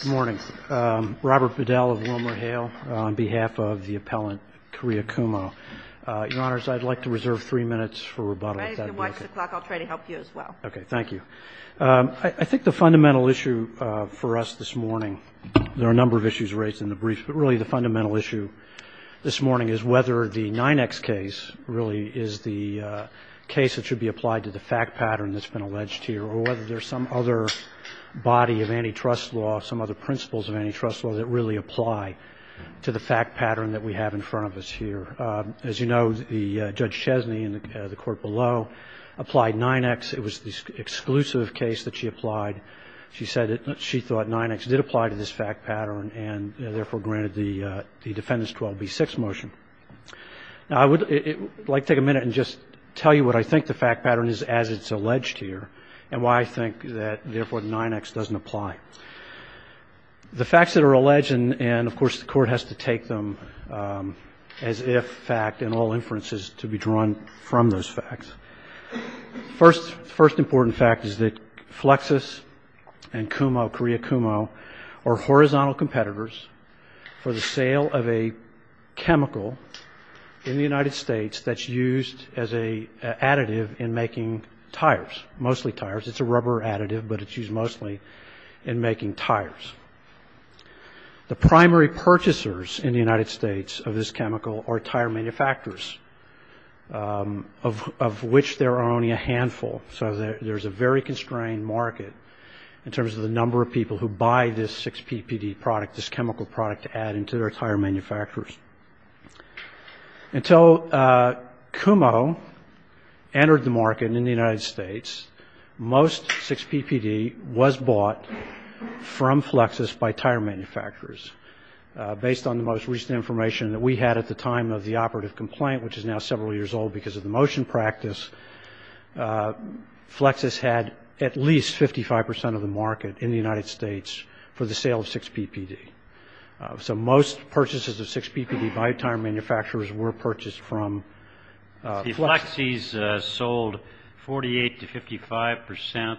Good morning. Robert Biddell of WilmerHale on behalf of the appellant Kariya Kumho. Your Honors, I'd like to reserve three minutes for rebuttal. I need to watch the clock. I'll try to help you as well. Okay. Thank you. I think the fundamental issue for us this morning, there are a number of issues raised in the brief, but really the fundamental issue this morning is whether the 9X case really is the case that should be applied to the fact pattern that's been alleged here or whether there's some other body of antitrust law, some other principles of antitrust law that really apply to the fact pattern that we have in front of us here. As you know, Judge Chesney in the court below applied 9X. It was the exclusive case that she applied. She said that she thought 9X did apply to this fact pattern and therefore granted the defendant's 12B6 motion. Now I would like to take a minute and just tell you what I think the fact pattern is as it's alleged here and why I think that therefore 9X doesn't apply. The facts that are alleged and of course the court has to take them as if fact in all inferences to be drawn from those facts. The first important fact is that Flexus and KUMO, Korea KUMO, are horizontal competitors for the sale of a chemical in the United States that's used as an additive in making tires, mostly tires. It's a rubber additive, but it's used mostly in making tires. The primary purchasers in the United States of this chemical are tire manufacturers, of which there are only a handful. So there's a very constrained market in terms of the number of people who buy this 6PPD product, this chemical product to add into their tire manufacturers. Until KUMO entered the market in the United States, most 6PPD was bought from Flexus by tire manufacturers. Based on the most recent information that we had at the time of the operative complaint, which is now several years old because of the motion practice, Flexus had at least 55% of the market in the United States for the sale of 6PPD. So most purchases of 6PPD by tire manufacturers were purchased from Flexus. The Flexus sold 48 to 55%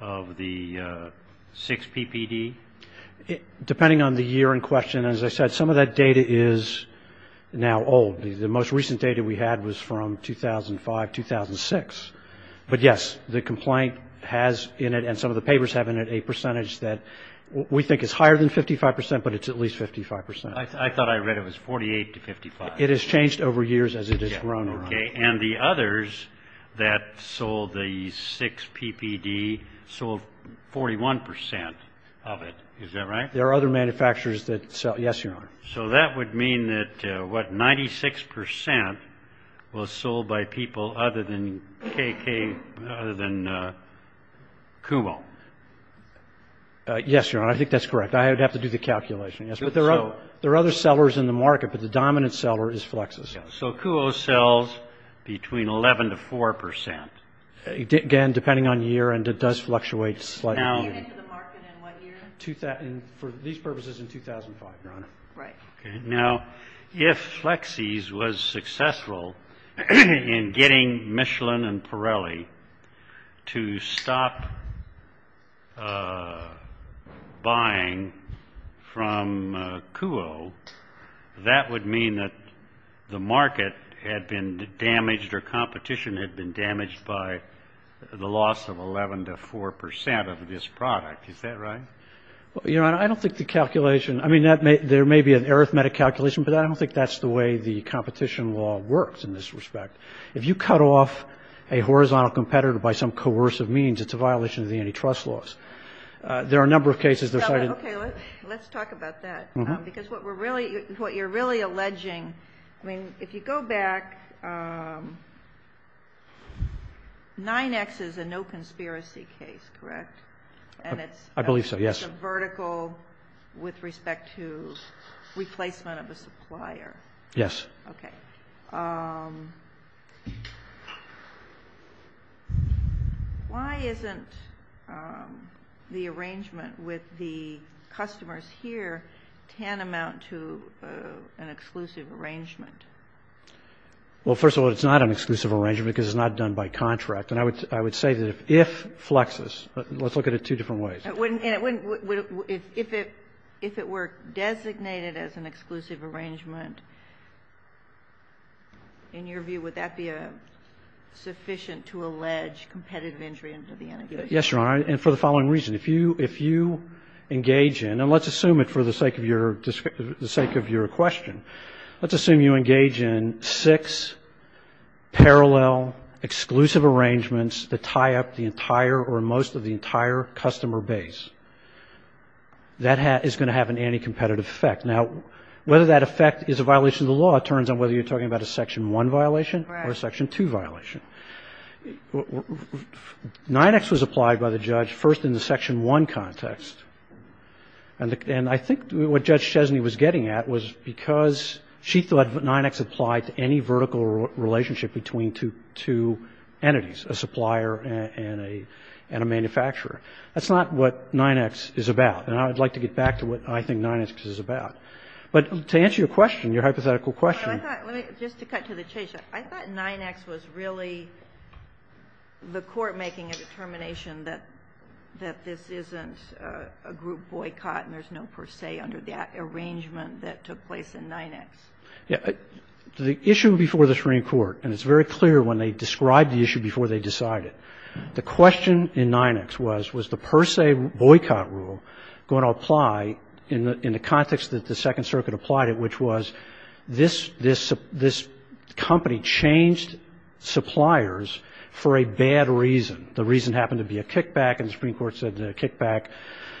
of the 6PPD? Depending on the year in question, as I said, some of that data is now old. The most recent data we had was from 2005, 2006. But, yes, the complaint has in it, and some of the papers have in it, a percentage that we think is higher than 55%, but it's at least 55%. I thought I read it was 48 to 55. It has changed over years as it has grown around. And the others that sold the 6PPD sold 41% of it. Is that right? There are other manufacturers that sell. Yes, Your Honor. So that would mean that, what, 96% was sold by people other than KUO. Yes, Your Honor, I think that's correct. I would have to do the calculation. But there are other sellers in the market, but the dominant seller is Flexus. So KUO sells between 11% to 4%. Again, depending on year, and it does fluctuate slightly. For these purposes, in 2005, Your Honor. Right. Now, if Flexus was successful in getting Michelin and Pirelli to stop buying from KUO, that would mean that the market had been damaged, or competition had been damaged by the loss of 11% to 4% of this product. Is that right? Well, Your Honor, I don't think the calculation. I mean, there may be an arithmetic calculation, but I don't think that's the way the competition law works in this respect. If you cut off a horizontal competitor by some coercive means, it's a violation of the antitrust laws. There are a number of cases. Okay, let's talk about that. Because what you're really alleging, I mean, if you go back, 9X is a no conspiracy case, correct? I believe so, yes. And it's a vertical with respect to replacement of a supplier. Yes. Okay. Why isn't the arrangement with the customers here tantamount to an exclusive arrangement? Well, first of all, it's not an exclusive arrangement because it's not done by contract. And I would say that if Flexus, let's look at it two different ways. If it were designated as an exclusive arrangement, in your view, would that be sufficient to allege competitive entry into the integration? Yes, Your Honor, and for the following reason. If you engage in, and let's assume it for the sake of your question, let's assume you engage in six parallel exclusive arrangements that tie up the entire or most of the entire customer base. That is going to have an anti-competitive effect. Now, whether that effect is a violation of the law, it turns on whether you're talking about a Section 1 violation or a Section 2 violation. 9X was applied by the judge first in the Section 1 context. And I think what Judge Chesney was getting at was because she thought 9X applied to any vertical relationship between two entities, a supplier and a manufacturer. That's not what 9X is about. And I would like to get back to what I think 9X is about. But to answer your question, your hypothetical question. Just to cut to the chase, I thought 9X was really the court making a determination that this isn't a group boycott and there's no per se under the arrangement that took place in 9X. The issue before the Supreme Court, and it's very clear when they describe the issue before they decide it, the question in 9X was was the per se boycott rule going to apply in the context that the Second Circuit applied it, which was this company changed suppliers for a bad reason. The reason happened to be a kickback, and the Supreme Court said the kickback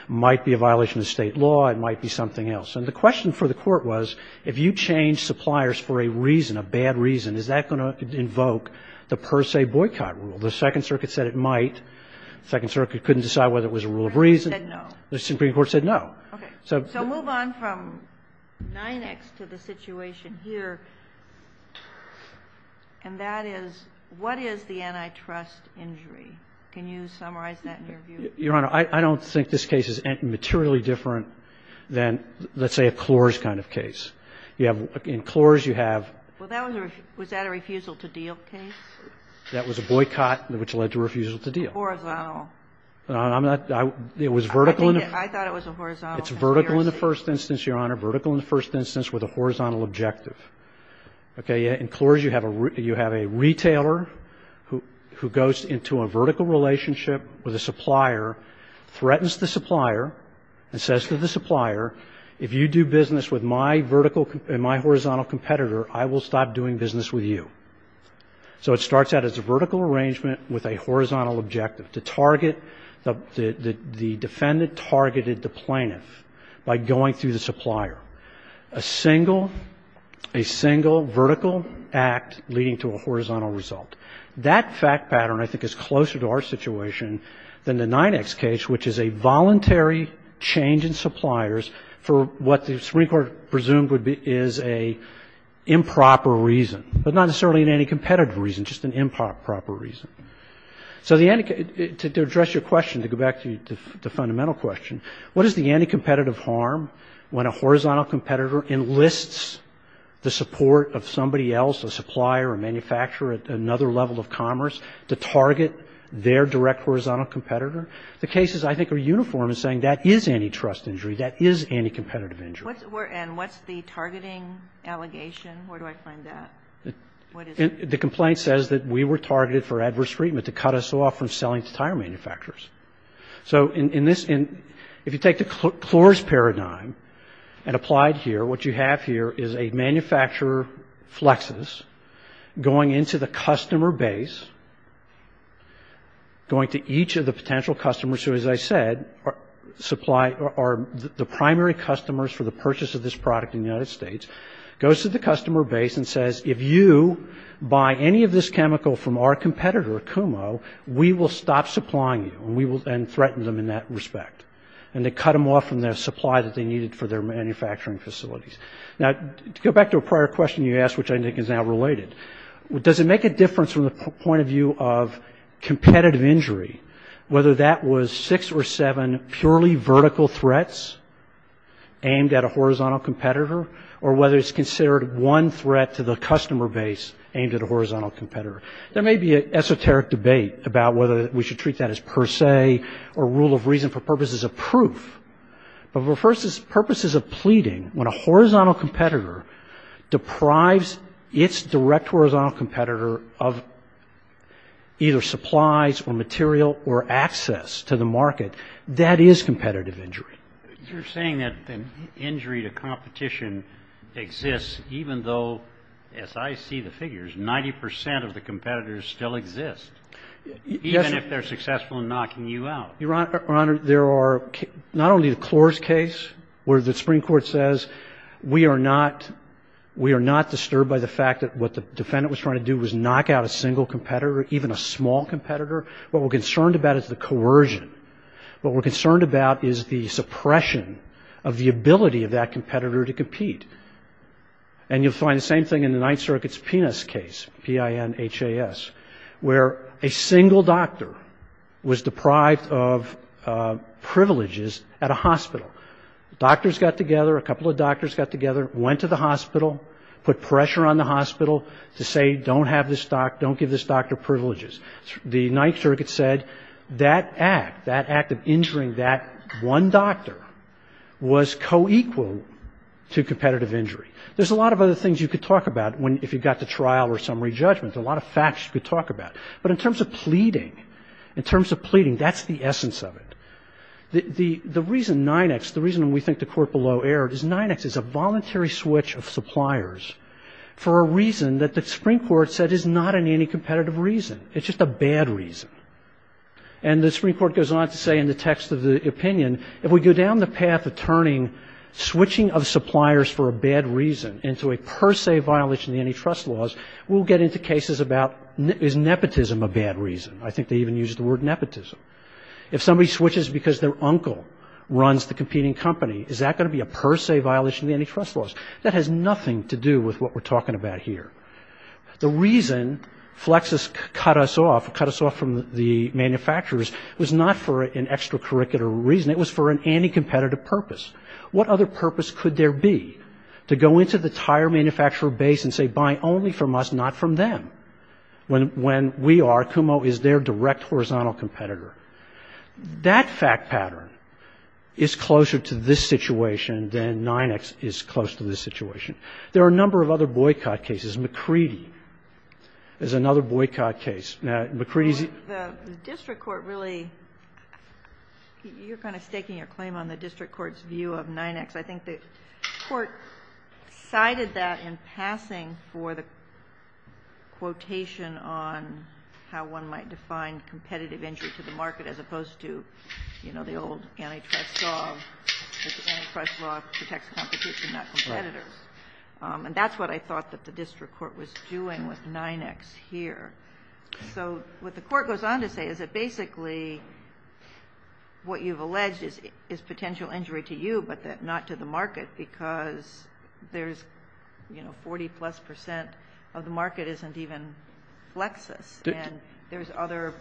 might be a violation of state law, it might be something else. And the question for the court was if you change suppliers for a reason, a bad reason, is that going to invoke the per se boycott rule? The Second Circuit said it might. The Second Circuit couldn't decide whether it was a rule of reason. The Supreme Court said no. So move on from 9X to the situation here, and that is what is the antitrust injury? Can you summarize that in your view? Your Honor, I don't think this case is materially different than, let's say, a Clores kind of case. You have, in Clores you have. Well, that was a refusal to deal case. That was a boycott which led to refusal to deal. Horizontal. I'm not, it was vertical. I thought it was a horizontal conspiracy. It's vertical in the first instance, Your Honor, vertical in the first instance with a horizontal objective. Okay. You have a retailer who goes into a vertical relationship with a supplier, threatens the supplier, and says to the supplier, if you do business with my vertical and my horizontal competitor, I will stop doing business with you. So it starts out as a vertical arrangement with a horizontal objective. The defendant targeted the plaintiff by going through the supplier. A single, a single vertical act leading to a horizontal result. That fact pattern I think is closer to our situation than the 9X case, which is a voluntary change in suppliers for what the Supreme Court presumes is an improper reason, but not necessarily an anti-competitive reason, just an improper reason. So to address your question, to go back to the fundamental question, what is the anti-competitive harm when a horizontal competitor enlists the support of somebody else, a supplier, a manufacturer at another level of commerce, to target their direct horizontal competitor? The cases I think are uniform in saying that is antitrust injury, that is anti-competitive injury. And what's the targeting allegation? Where do I find that? What is it? The complaint says that we were targeted for adverse treatment to cut us off from selling to tire manufacturers. So in this, if you take the Clors paradigm and apply it here, what you have here is a manufacturer, Flexus, going into the customer base, going to each of the potential customers who, as I said, supply, are the primary customers for the purchase of this product in the United States, goes to the customer base and says, if you buy any of this chemical from our competitor, Kumo, we will stop supplying you and threaten them in that respect. And they cut them off from the supply that they needed for their manufacturing facilities. Now, to go back to a prior question you asked, which I think is now related, does it make a difference from the point of view of competitive injury, whether that was six or seven purely vertical threats aimed at a horizontal competitor, or whether it's considered one threat to the customer base aimed at a horizontal competitor? There may be an esoteric debate about whether we should treat that as per se or rule of reason for purposes of proof. But for purposes of pleading, when a horizontal competitor deprives its direct horizontal competitor of either supplies or material or access to the market, that is competitive injury. You're saying that the injury to competition exists even though, as I see the figures, 90 percent of the competitors still exist, even if they're successful in knocking you out. Your Honor, there are not only the Clores case where the Supreme Court says we are not disturbed by the fact that what the defendant was trying to do was knock out a single competitor, even a small competitor. What we're concerned about is the coercion. What we're concerned about is the suppression of the ability of that competitor to compete. And you'll find the same thing in the Ninth Circuit's PINHAS case, P-I-N-H-A-S, where a single doctor was deprived of privileges at a hospital. Doctors got together, a couple of doctors got together, went to the hospital, put pressure on the hospital to say don't give this doctor privileges. The Ninth Circuit said that act, that act of injuring that one doctor, was co-equal to competitive injury. There's a lot of other things you could talk about if you got to trial or summary judgment, a lot of facts you could talk about. But in terms of pleading, in terms of pleading, that's the essence of it. The reason 9X, the reason we think the court below erred is 9X is a voluntary switch of suppliers for a reason that the Supreme Court said is not an anti-competitive reason. It's just a bad reason. And the Supreme Court goes on to say in the text of the opinion, if we go down the path of turning switching of suppliers for a bad reason into a per se violation of antitrust laws, we'll get into cases about is nepotism a bad reason. I think they even use the word nepotism. If somebody switches because their uncle runs the competing company, is that going to be a per se violation of antitrust laws? That has nothing to do with what we're talking about here. The reason Flexus cut us off, cut us off from the manufacturers, was not for an extracurricular reason. It was for an anti-competitive purpose. What other purpose could there be to go into the tire manufacturer base and say buy only from us, not from them? When we are, Kumho is their direct horizontal competitor. That fact pattern is closer to this situation than 9X is close to this situation. There are a number of other boycott cases. McCready is another boycott case. Now, McCready's. The district court really, you're kind of staking your claim on the district court's view of 9X. I think the court cited that in passing for the quotation on how one might define competitive entry to the market as opposed to, you know, the old antitrust law, antitrust law protects competition, not competitors. And that's what I thought that the district court was doing with 9X here. So what the court goes on to say is that basically what you've alleged is potential injury to you, but not to the market because there's, you know, 40-plus percent of the market isn't even Flexus. And there's other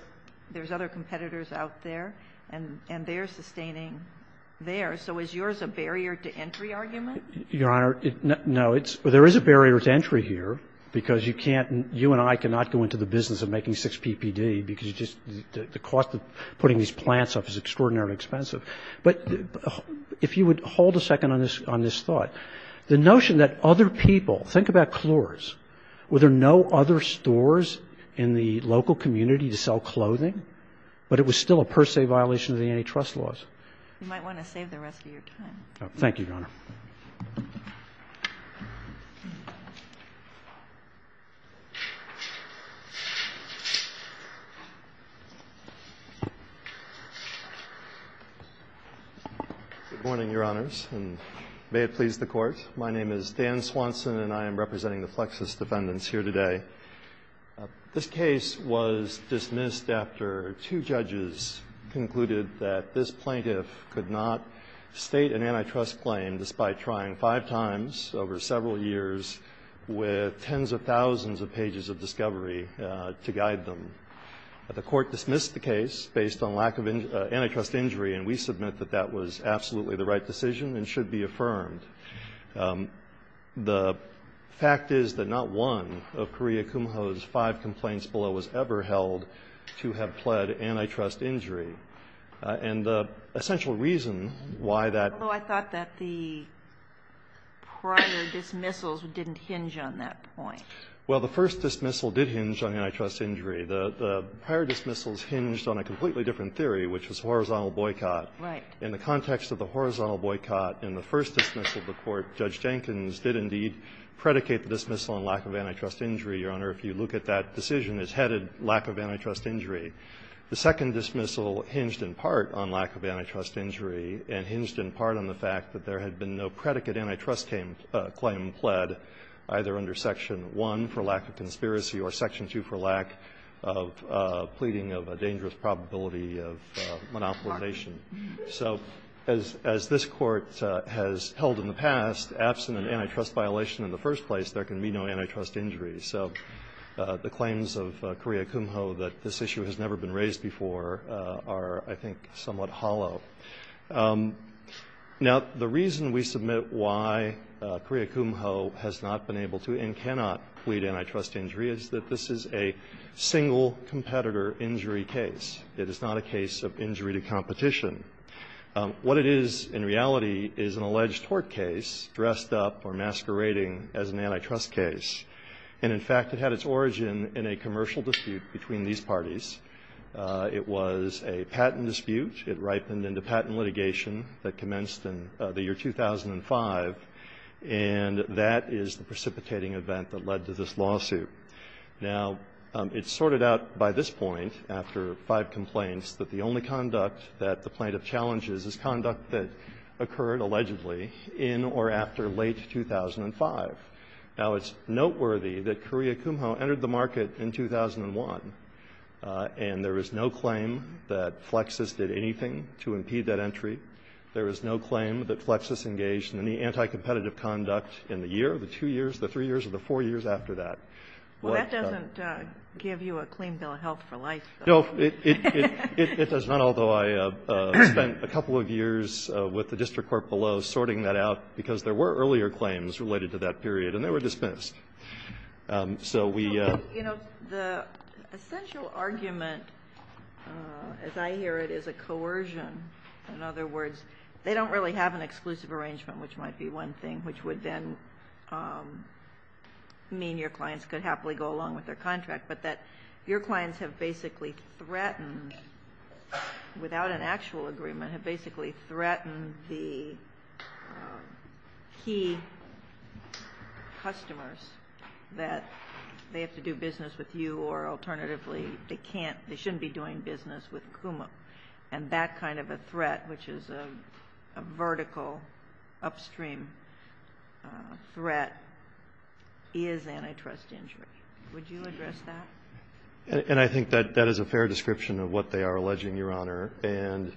competitors out there, and they're sustaining theirs. So is yours a barrier to entry argument? Your Honor, no. There is a barrier to entry here because you can't, you and I cannot go into the business of making six PPD because the cost of putting these plants up is extraordinarily expensive. But if you would hold a second on this thought. The notion that other people, think about Clores. Were there no other stores in the local community to sell clothing? But it was still a per se violation of the antitrust laws. You might want to save the rest of your time. Thank you, Your Honor. Good morning, Your Honors, and may it please the Court. My name is Dan Swanson, and I am representing the Flexus defendants here today. This case was dismissed after two judges concluded that this plaintiff could not state an antitrust claim despite trying five times over several years with tens of thousands of pages of discovery to guide them. The Court dismissed the case based on lack of antitrust injury, and we submit that that was absolutely the right decision and should be affirmed. The fact is that not one of Korea Kumho's five complaints below was ever held to have pled antitrust injury. And the essential reason why that was. Although I thought that the prior dismissals didn't hinge on that point. Well, the first dismissal did hinge on antitrust injury. The prior dismissals hinged on a completely different theory, which was horizontal boycott. Right. In the context of the horizontal boycott in the first dismissal of the Court, Judge Jenkins did indeed predicate the dismissal on lack of antitrust injury, Your Honor, if you look at that decision as headed lack of antitrust injury. The second dismissal hinged in part on lack of antitrust injury and hinged in part on the fact that there had been no predicate antitrust claim pled, either under Section 1 for lack of conspiracy or Section 2 for lack of pleading of a dangerous probability of monopolization. So as this Court has held in the past, absent an antitrust violation in the first place, there can be no antitrust injury. So the claims of Korea Kumho that this issue has never been raised before are, I think, somewhat hollow. Now, the reason we submit why Korea Kumho has not been able to and cannot plead antitrust injury is that this is a single competitor injury case. It is not a case of injury to competition. What it is in reality is an alleged tort case dressed up or masquerading as an antitrust case. And in fact, it had its origin in a commercial dispute between these parties. It was a patent dispute. It ripened into patent litigation that commenced in the year 2005. And that is the precipitating event that led to this lawsuit. Now, it's sorted out by this point, after five complaints, that the only conduct that the plaintiff challenges is conduct that occurred allegedly in or after late 2005. Now, it's noteworthy that Korea Kumho entered the market in 2001, and there is no claim that Flexus did anything to impede that entry. There is no claim that Flexus engaged in any anticompetitive conduct in the year, the two years, the three years, or the four years after that. Well, that doesn't give you a clean bill of health for life. No, it does not, although I spent a couple of years with the district court below earlier claims related to that period, and they were dismissed. So we ---- You know, the essential argument, as I hear it, is a coercion. In other words, they don't really have an exclusive arrangement, which might be one thing, which would then mean your clients could happily go along with their contract, but that your clients have basically threatened, without an actual agreement, have basically threatened the key customers that they have to do business with you or alternatively they can't, they shouldn't be doing business with Kumho. And that kind of a threat, which is a vertical upstream threat, is antitrust injury. Would you address that? And I think that that is a fair description of what they are alleging, Your Honor. And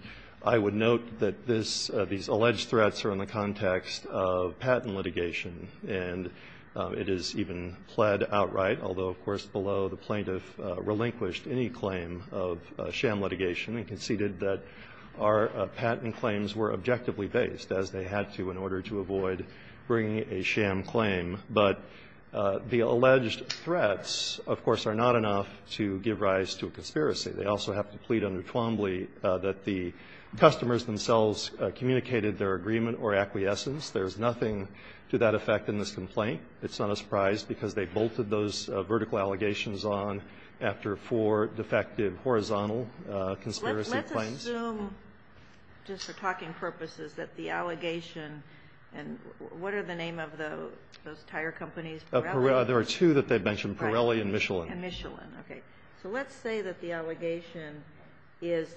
I would note that this ---- these alleged threats are in the context of patent litigation, and it is even pled outright, although, of course, below the plaintiff relinquished any claim of sham litigation and conceded that our patent claims were objectively based, as they had to in order to avoid bringing a sham claim. But the alleged threats, of course, are not enough to give rise to a conspiracy. They also have to plead under Twombly that the customers themselves communicated their agreement or acquiescence. There's nothing to that effect in this complaint. It's not a surprise because they bolted those vertical allegations on after four defective horizontal conspiracy claims. Let's assume, just for talking purposes, that the allegation and what are the name of those tire companies? There are two that they've mentioned, Pirelli and Michelin. And Michelin. Okay. So let's say that the allegation is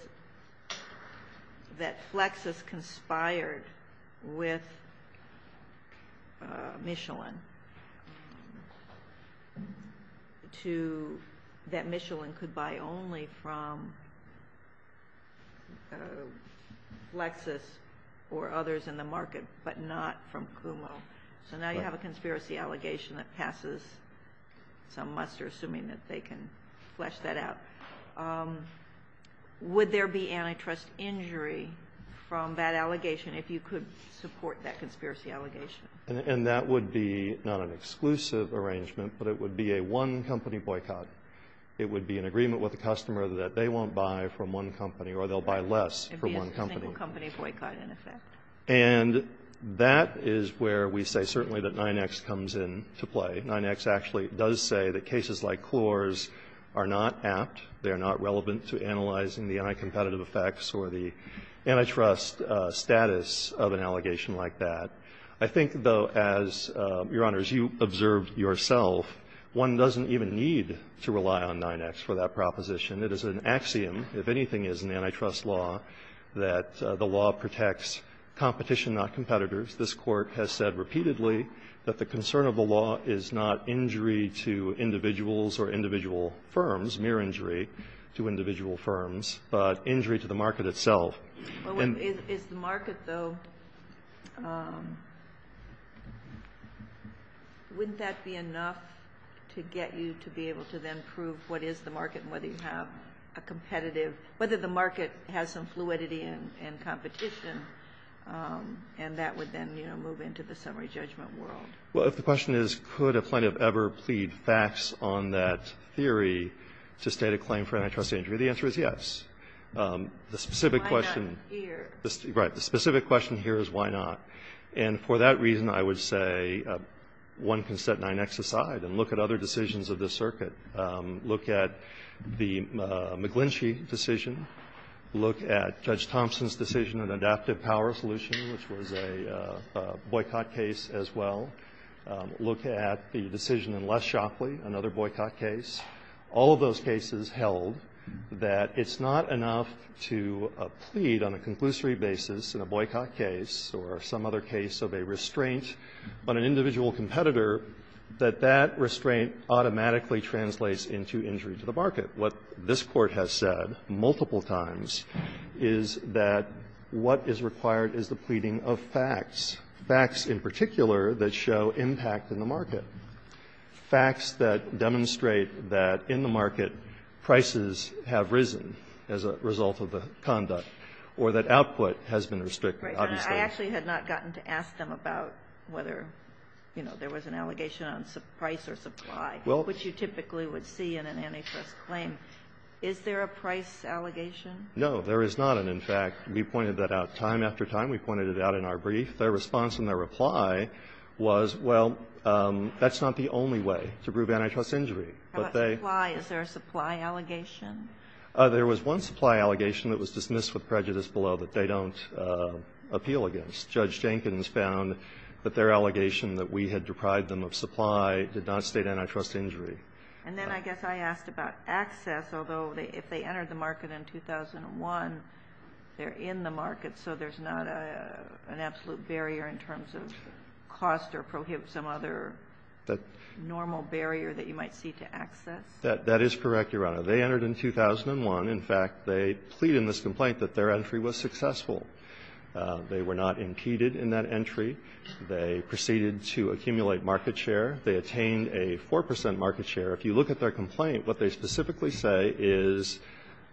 that Flexus conspired with Michelin to ---- that Michelin could buy only from Flexus or others in the market, but not from Kumo. So now you have a conspiracy allegation that passes. Some muster, assuming that they can flesh that out. Would there be antitrust injury from that allegation if you could support that conspiracy allegation? And that would be not an exclusive arrangement, but it would be a one-company boycott. It would be an agreement with the customer that they won't buy from one company or they'll buy less from one company. It would be a single-company boycott, in effect. And that is where we say certainly that 9X comes into play. 9X actually does say that cases like Klor's are not apt. They are not relevant to analyzing the anticompetitive effects or the antitrust status of an allegation like that. I think, though, as, Your Honors, you observed yourself, one doesn't even need to rely on 9X for that proposition. It is an axiom. If anything is in antitrust law, that the law protects competition, not competitors. This Court has said repeatedly that the concern of the law is not injury to individuals or individual firms, mere injury to individual firms, but injury to the market itself. And the market, though, wouldn't that be enough to get you to be able to then prove what is the market and whether you have a competitive, whether the market has some competition, and then move into the summary judgment world? Well, if the question is could a plaintiff ever plead facts on that theory to state a claim for antitrust injury, the answer is yes. The specific question here is why not. And for that reason, I would say one can set 9X aside and look at other decisions of this circuit, look at the McGlinchey decision, look at Judge Thompson's decision on adaptive power solution, which was a boycott case as well, look at the decision in Less Shockley, another boycott case. All of those cases held that it's not enough to plead on a conclusory basis in a boycott case or some other case of a restraint on an individual competitor that that restraint automatically translates into injury to the market. What this Court has said multiple times is that what is required is the pleading of facts, facts in particular that show impact in the market, facts that demonstrate that in the market prices have risen as a result of the conduct, or that output Obviously the market has been restricted. I actually had not gotten to ask them about whether, you know, there was an allegation on price or supply. Well, what you typically would see in an antitrust claim, is there a price allegation? No, there is not. And in fact, we pointed that out time after time. We pointed it out in our brief. Their response and their reply was, well, that's not the only way to prove antitrust injury. But they Why is there a supply allegation? There was one supply allegation that was dismissed with prejudice below that they don't appeal against. Judge Jenkins found that their allegation that we had deprived them of supply did not state antitrust injury. And then I guess I asked about access, although if they entered the market in 2001, they're in the market, so there's not an absolute barrier in terms of cost or prohibit some other normal barrier that you might see to access? That is correct, Your Honor. They entered in 2001. In fact, they plead in this complaint that their entry was successful. They were not impeded in that entry. They proceeded to accumulate market share. They attained a 4 percent market share. If you look at their complaint, what they specifically say is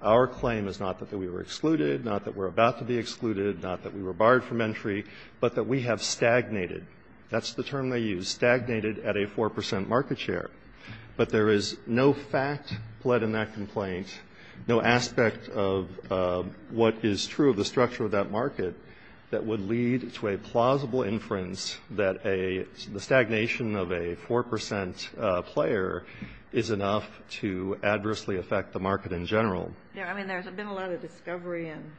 our claim is not that we were excluded, not that we're about to be excluded, not that we were barred from entry, but that we have stagnated. That's the term they used, stagnated at a 4 percent market share. But there is no fact pled in that complaint, no aspect of what is true of the structure of that market that would lead to a plausible inference that a stagnation of a 4 percent player is enough to adversely affect the market in general. Yes, I mean, there's been a lot of discovery and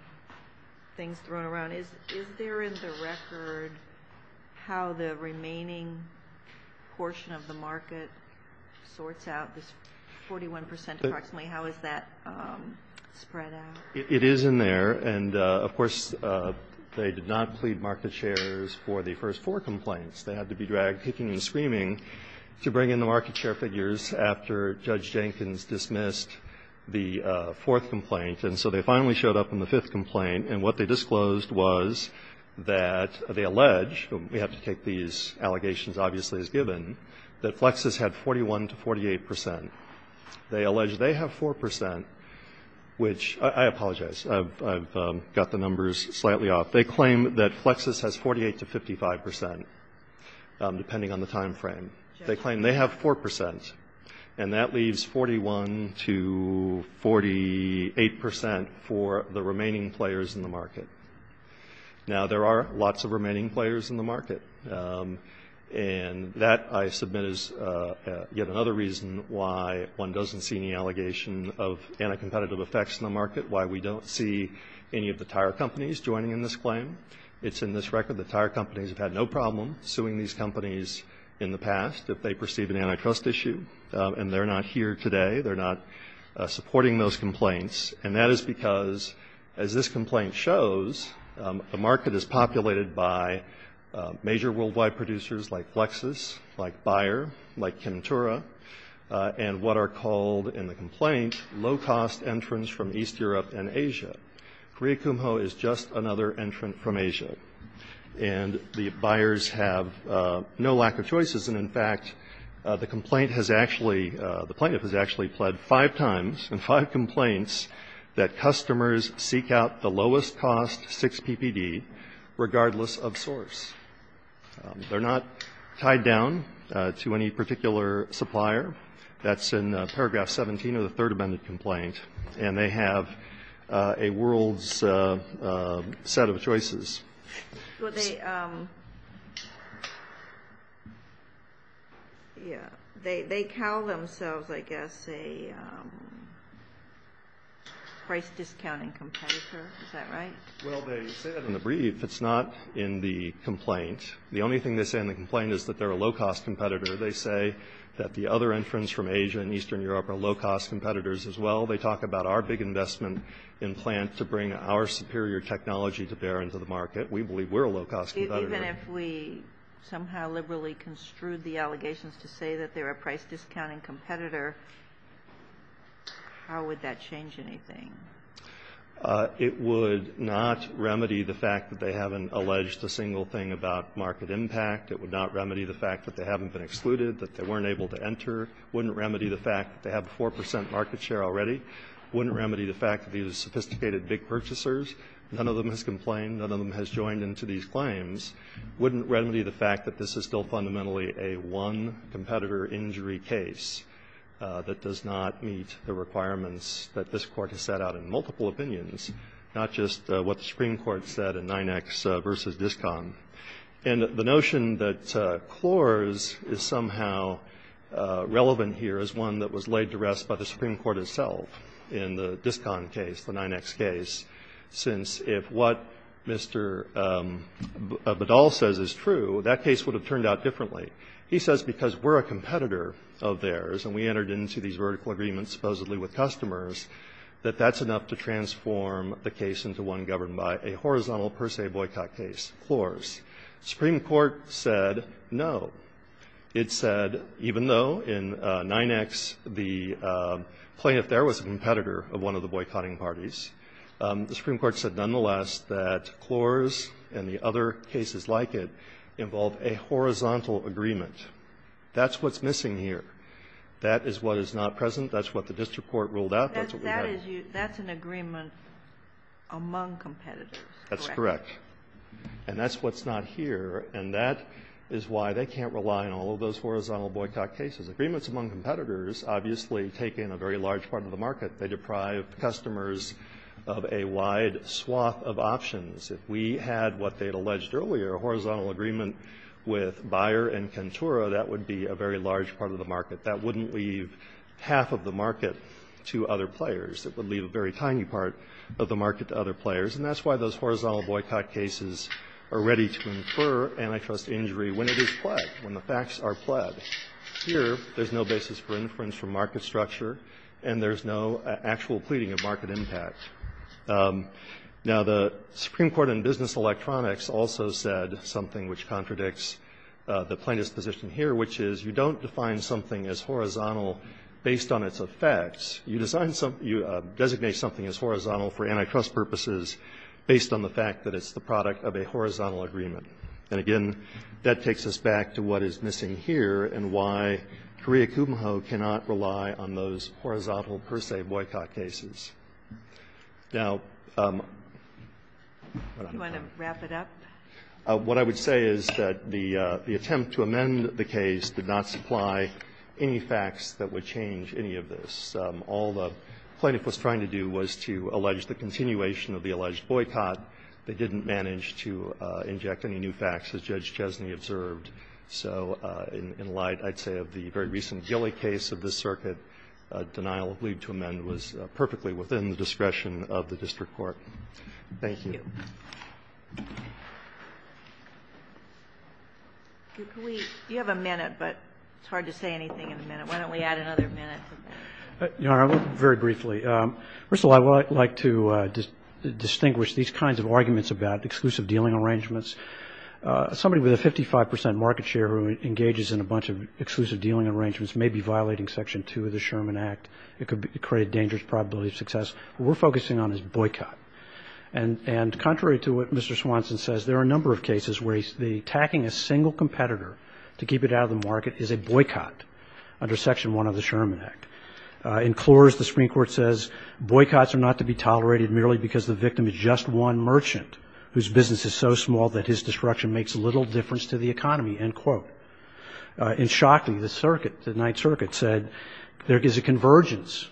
things thrown around. Is there in the record how the remaining portion of the market sorts out this 41 percent approximately? How is that spread out? It is in there. And of course, they did not plead market shares for the first four complaints. They had to be dragged kicking and screaming to bring in the market share figures after Judge Jenkins dismissed the fourth complaint. And so they finally showed up in the fifth complaint. And what they disclosed was that they allege, we have to take these allegations obviously as given, that Flexus had 41 to 48 percent. They allege they have 4 percent, which I apologize, I've got the numbers slightly off. They claim that Flexus has 48 to 55 percent, depending on the time frame. They claim they have 4 percent, and that leaves 41 to 48 percent for the remaining players in the market. Now there are lots of remaining players in the market, and that I submit is yet another reason why one doesn't see any allegation of anti-competitive effects in the market, why we don't see any of the tire companies joining in this claim. It's in this record that tire companies have had no problem suing these companies in the past if they perceive an antitrust issue. And they're not here today. They're not supporting those complaints. And that is because, as this complaint shows, the market is populated by major worldwide producers like Flexus, like Bayer, like Kentura, and what are called in the complaint low-cost entrants from East Europe and Asia. Korea Kumho is just another entrant from Asia, and the buyers have no lack of choices. And, in fact, the complaint has actually, the plaintiff has actually pled five times in five complaints that customers seek out the lowest cost 6 PPD, regardless of source. They're not tied down to any particular supplier. That's in paragraph 17 of the third amended complaint. And they have a world's set of choices. Well, they, yeah, they call themselves, I guess, a price-discounting competitor. Is that right? Well, they say that in the brief. It's not in the complaint. The only thing they say in the complaint is that they're a low-cost competitor. They say that the other entrants from Asia and Eastern Europe are low-cost competitors as well. They talk about our big investment in plant to bring our superior technology to bear into the market. We believe we're a low-cost competitor. Even if we somehow liberally construed the allegations to say that they're a price-discounting competitor, how would that change anything? It would not remedy the fact that they haven't alleged a single thing about market impact. It would not remedy the fact that they haven't been excluded, that they weren't able to enter. It wouldn't remedy the fact that they have a 4 percent market share already. It wouldn't remedy the fact that these are sophisticated big purchasers. None of them has complained. None of them has joined into these claims. It wouldn't remedy the fact that this is still fundamentally a one-competitor injury case that does not meet the requirements that this Court has set out in multiple opinions, not just what the Supreme Court said in 9X v. DISCON. And the notion that Clores is somehow relevant here is one that was laid to rest by the Supreme Court itself in the DISCON case, the 9X case, since if what Mr. Badal says is true, that case would have turned out differently. He says because we're a competitor of theirs, and we entered into these vertical agreements supposedly with customers, that that's enough to transform the case into one governed by a horizontal, per se, boycott case, Clores. The Supreme Court said no. It said even though in 9X the plaintiff there was a competitor of one of the boycotting parties, the Supreme Court said nonetheless that Clores and the other cases like it involve a horizontal agreement. That's what's missing here. That is what is not present. That's what the district court ruled out. That's what we have. Ginsburg. That's an agreement among competitors, correct? That's correct. And that's what's not here. And that is why they can't rely on all of those horizontal boycott cases. Agreements among competitors obviously take in a very large part of the market. They deprive customers of a wide swath of options. If we had what they had alleged earlier, a horizontal agreement with Bayer and Cantura, that would be a very large part of the market. That wouldn't leave half of the market to other players. It would leave a very tiny part of the market to other players. And that's why those horizontal boycott cases are ready to infer antitrust injury when it is pled, when the facts are pled. Here, there's no basis for inference from market structure, and there's no actual pleading of market impact. Now, the Supreme Court in Business Electronics also said something which contradicts the plaintiff's position here, which is you don't define something as horizontal based on its effects. You design something, you designate something as horizontal for antitrust purposes based on the fact that it's the product of a horizontal agreement. And again, that takes us back to what is missing here and why Korea Kumho cannot rely on those horizontal per se boycott cases. The attempt to amend the case did not supply any facts that would change any of this. All the plaintiff was trying to do was to allege the continuation of the alleged boycott. They didn't manage to inject any new facts, as Judge Chesney observed. So in light, I'd say, of the very recent Gilly case of this circuit, denial of leave to amend was perfectly within the discretion of the district court. Thank you. You have a minute, but it's hard to say anything in a minute. Why don't we add another minute to that? Very briefly. First of all, I would like to distinguish these kinds of arguments about exclusive dealing arrangements. Somebody with a 55 percent market share who engages in a bunch of exclusive dealing arrangements may be violating Section 2 of the Sherman Act. It could create a dangerous probability of success. What we're focusing on is boycott. And contrary to what Mr. Swanson says, there are a number of cases where the attacking a single competitor to keep it out of the market is a boycott under Section 1 of the Sherman Act. In Clores, the Supreme Court says boycotts are not to be tolerated merely because the victim is just one merchant whose business is so small that his disruption makes little difference to the economy, end quote. In Shockley, the circuit, the Ninth Circuit said there is a convergence,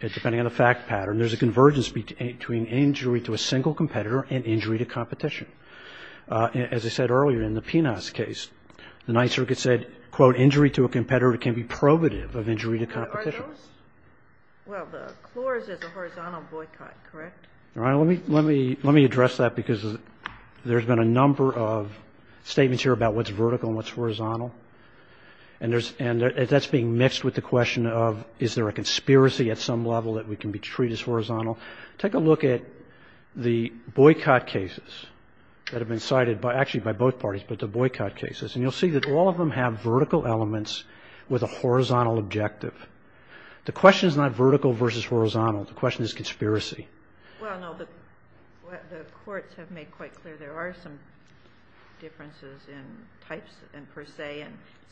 depending on the fact pattern, there's a convergence between injury to a single competitor and injury to competition. As I said earlier in the Pinas case, the Ninth Circuit said, quote, injury to a competitor can be probative of injury to competition. Are those? Well, the Clores is a horizontal boycott, correct? All right. Let me address that because there's been a number of statements here about what's vertical and what's horizontal, and that's being mixed with the question of is there a conspiracy at some level that we can be treated as horizontal. Take a look at the boycott cases that have been cited by actually by both parties, but the boycott cases, and you'll see that all of them have vertical elements with a horizontal objective. The question is not vertical versus horizontal. The question is conspiracy. Well, no. The courts have made quite clear there are some differences in types and per se.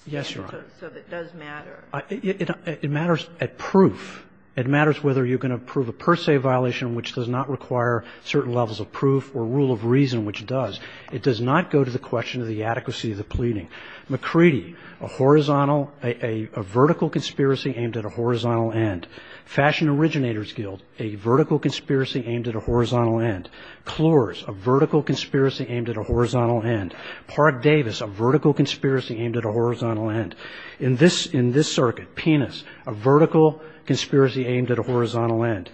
Yes, Your Honor. So it does matter. It matters at proof. It matters whether you can approve a per se violation which does not require certain levels of proof or rule of reason which does. It does not go to the question of the adequacy of the pleading. McCready, a horizontal, a vertical conspiracy aimed at a horizontal end. Fashion Originator's Guild, a vertical conspiracy aimed at a horizontal end. Clores, a vertical conspiracy aimed at a horizontal end. Park Davis, a vertical conspiracy aimed at a horizontal end. In this circuit, Penis, a vertical conspiracy aimed at a horizontal end.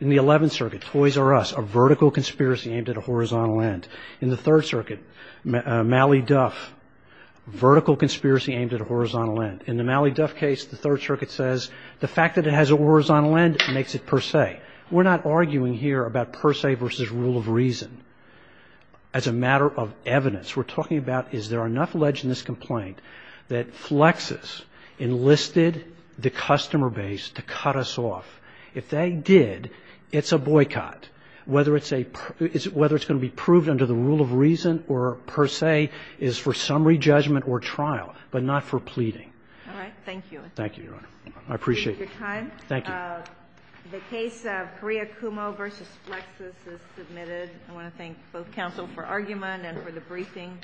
In the Eleventh Circuit, Toys R Us, a vertical conspiracy aimed at a horizontal end. In the Third Circuit, Mally Duff, a vertical conspiracy aimed at a horizontal end. In the Mally Duff case, the Third Circuit says the fact that it has a horizontal end makes it per se. We're not arguing here about per se versus rule of reason. As a matter of evidence, we're talking about is there enough ledge in this complaint that Flexus enlisted the customer base to cut us off? If they did, it's a boycott. Whether it's going to be proved under the rule of reason or per se is for summary judgment or trial, but not for pleading. Thank you. Thank you, Your Honor. I appreciate your time. Thank you. The case of Correa-Cumo v. Flexus is submitted. I want to thank both counsel for argument and for the briefing.